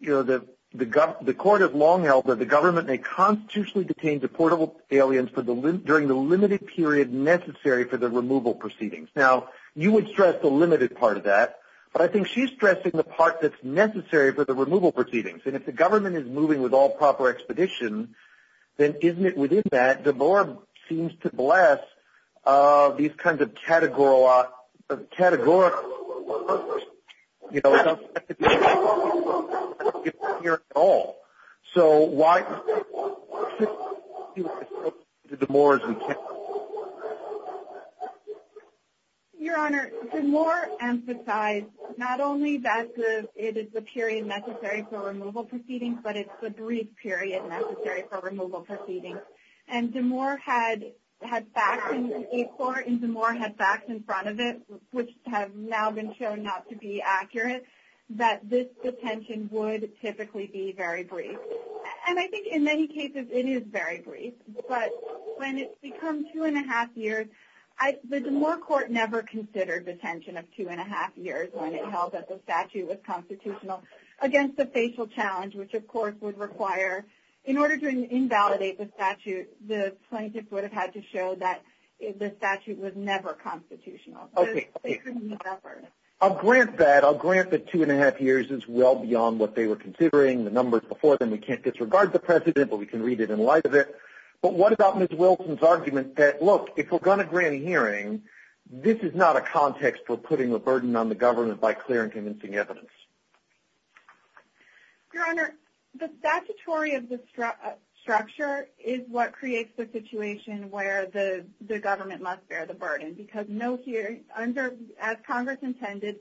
you know, the court has long held that the government may constitutionally detain deportable aliens during the limited period necessary for the removal proceedings. Now, you would stress the limited part of that, but I think she's stressing the part that's necessary for the removal proceedings. And if the government is moving with all proper expedition, then isn't it within that, DeMoore seems to bless these kinds of categorical, you know, it doesn't have to be here at all. So why isn't it associated with DeMoore as we can? Your Honor, DeMoore emphasized not only that it is a period necessary for removal proceedings, but it's a brief period necessary for removal proceedings. And DeMoore had facts in court, and DeMoore had facts in front of it, which have now been shown not to be accurate, that this detention would typically be very brief. And I think in many cases it is very brief. But when it's become two-and-a-half years, the DeMoore court never considered detention of two-and-a-half years when it held that the statute was constitutional against the facial challenge, which, of course, would require, in order to invalidate the statute, the plaintiffs would have had to show that the statute was never constitutional. They couldn't have ever. I'll grant that. I'll grant that two-and-a-half years is well beyond what they were considering. The numbers before them, we can't disregard the precedent, but we can read it in light of it. But what about Ms. Wilson's argument that, look, if we're going to grant a hearing, this is not a context for putting a burden on the government by clear and convincing evidence? Your Honor, the statutory of the structure is what creates the situation where the government must bear the burden because, as Congress intended,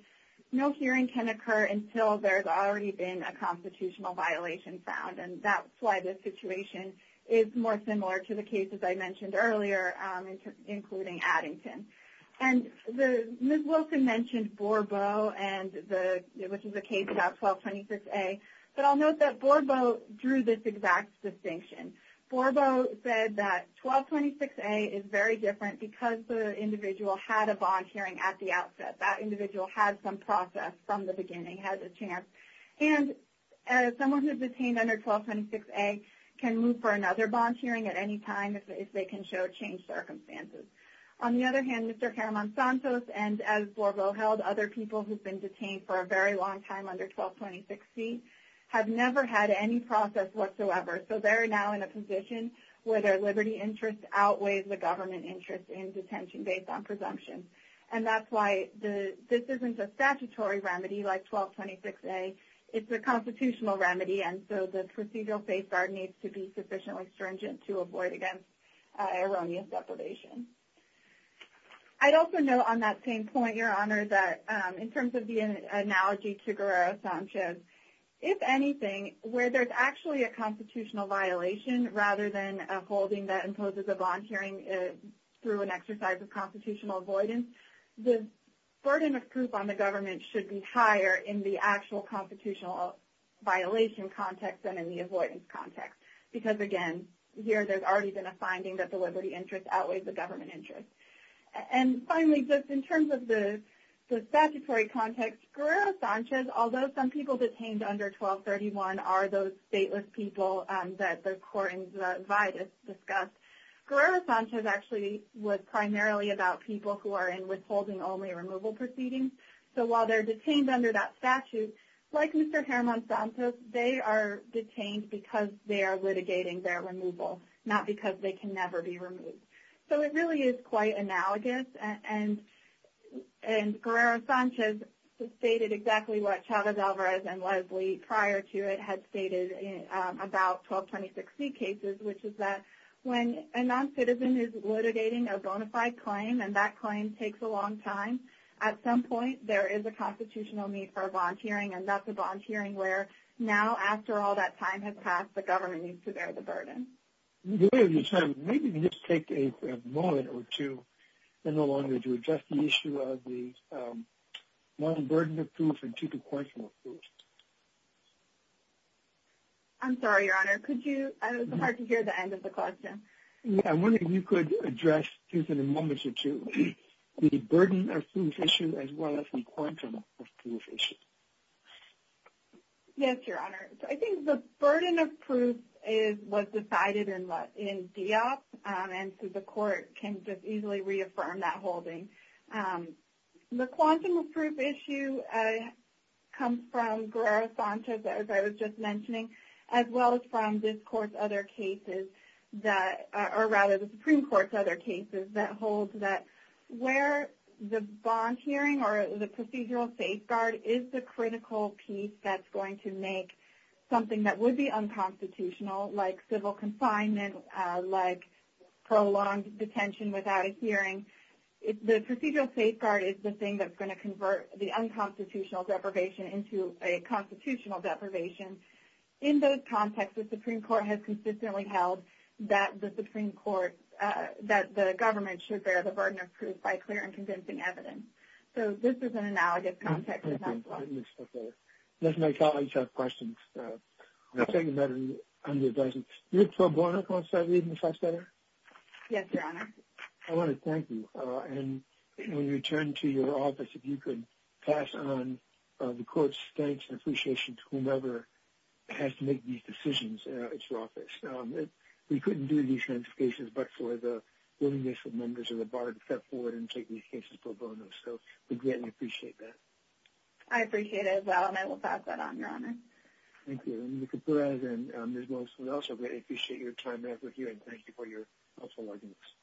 no hearing can occur until there's already been a constitutional violation found, and that's why this situation is more similar to the cases I mentioned earlier, including Addington. And Ms. Wilson mentioned Borbeau, which is a case about 1226A, but I'll note that Borbeau drew this exact distinction. Borbeau said that 1226A is very different because the individual had a bond hearing at the outset. That individual had some process from the beginning, had a chance. And someone who's detained under 1226A can move for another bond hearing at any time if they can show changed circumstances. On the other hand, Mr. Jaramon-Santos and, as Borbeau held, other people who've been detained for a very long time under 1226C have never had any process whatsoever, so they're now in a position where their liberty interest outweighs the government interest in detention based on presumption. And that's why this isn't a statutory remedy like 1226A. It's a constitutional remedy, and so the procedural safeguard needs to be sufficiently stringent to avoid against erroneous deprivation. I'd also note on that same point, Your Honor, that in terms of the analogy to Guerrero-Sanchez, if anything, where there's actually a constitutional violation rather than a holding that imposes a bond hearing through an exercise of constitutional avoidance, the burden of proof on the government should be higher in the actual constitutional violation context than in the avoidance context. Because, again, here there's already been a finding that the liberty interest outweighs the government interest. And finally, just in terms of the statutory context, Guerrero-Sanchez, although some people detained under 1231 are those stateless people that the court in Vidas discussed, Guerrero-Sanchez actually was primarily about people who are in withholding only removal proceedings. So while they're detained under that statute, like Mr. Germán Santos, they are detained because they are litigating their removal, not because they can never be removed. So it really is quite analogous. And Guerrero-Sanchez stated exactly what Chavez-Alvarez and Leslie prior to it had stated about 1226C cases, which is that when a noncitizen is litigating a bona fide claim and that claim takes a long time, at some point there is a constitutional need for a bond hearing, and that's a bond hearing where now, after all that time has passed, the government needs to bear the burden. The way of your time, maybe we can just take a moment or two, in the long run, to address the issue of the one, burden of proof, and two, the question of proof. I'm sorry, Your Honor. It's hard to hear the end of the question. I'm wondering if you could address, just in a moment or two, the burden of proof issue as well as the quantum of proof issue. Yes, Your Honor. I think the burden of proof is what's decided in DIOP, and so the court can just easily reaffirm that holding. The quantum of proof issue comes from Guerrero-Sanchez, as I was just mentioning, as well as from this Court's other cases, or rather the Supreme Court's other cases, that holds that where the bond hearing or the procedural safeguard is the critical piece that's going to make something that would be unconstitutional, like civil confinement, like prolonged detention without a hearing. The procedural safeguard is the thing that's going to convert the unconstitutional deprivation into a constitutional deprivation. In those contexts, the Supreme Court has consistently held that the Supreme Court, that the government should bear the burden of proof by clear and convincing evidence. So this is an analogous context as well. Thank you. Let my colleagues have questions. I'll take a better view on the advice. You look so bored, I want to start reading this last letter. Yes, Your Honor. I want to thank you, and when you return to your office, if you could pass on the Court's thanks and appreciation to whomever has to make these decisions at your office. We couldn't do these notifications but for the willingness of members of the Board to step forward and take these cases for a bonus, so we greatly appreciate that. I appreciate it as well, and I will pass that on, Your Honor. Thank you. Mr. Perez and Ms. Wilson, we also greatly appreciate your time back with you, and thank you for your helpful audience.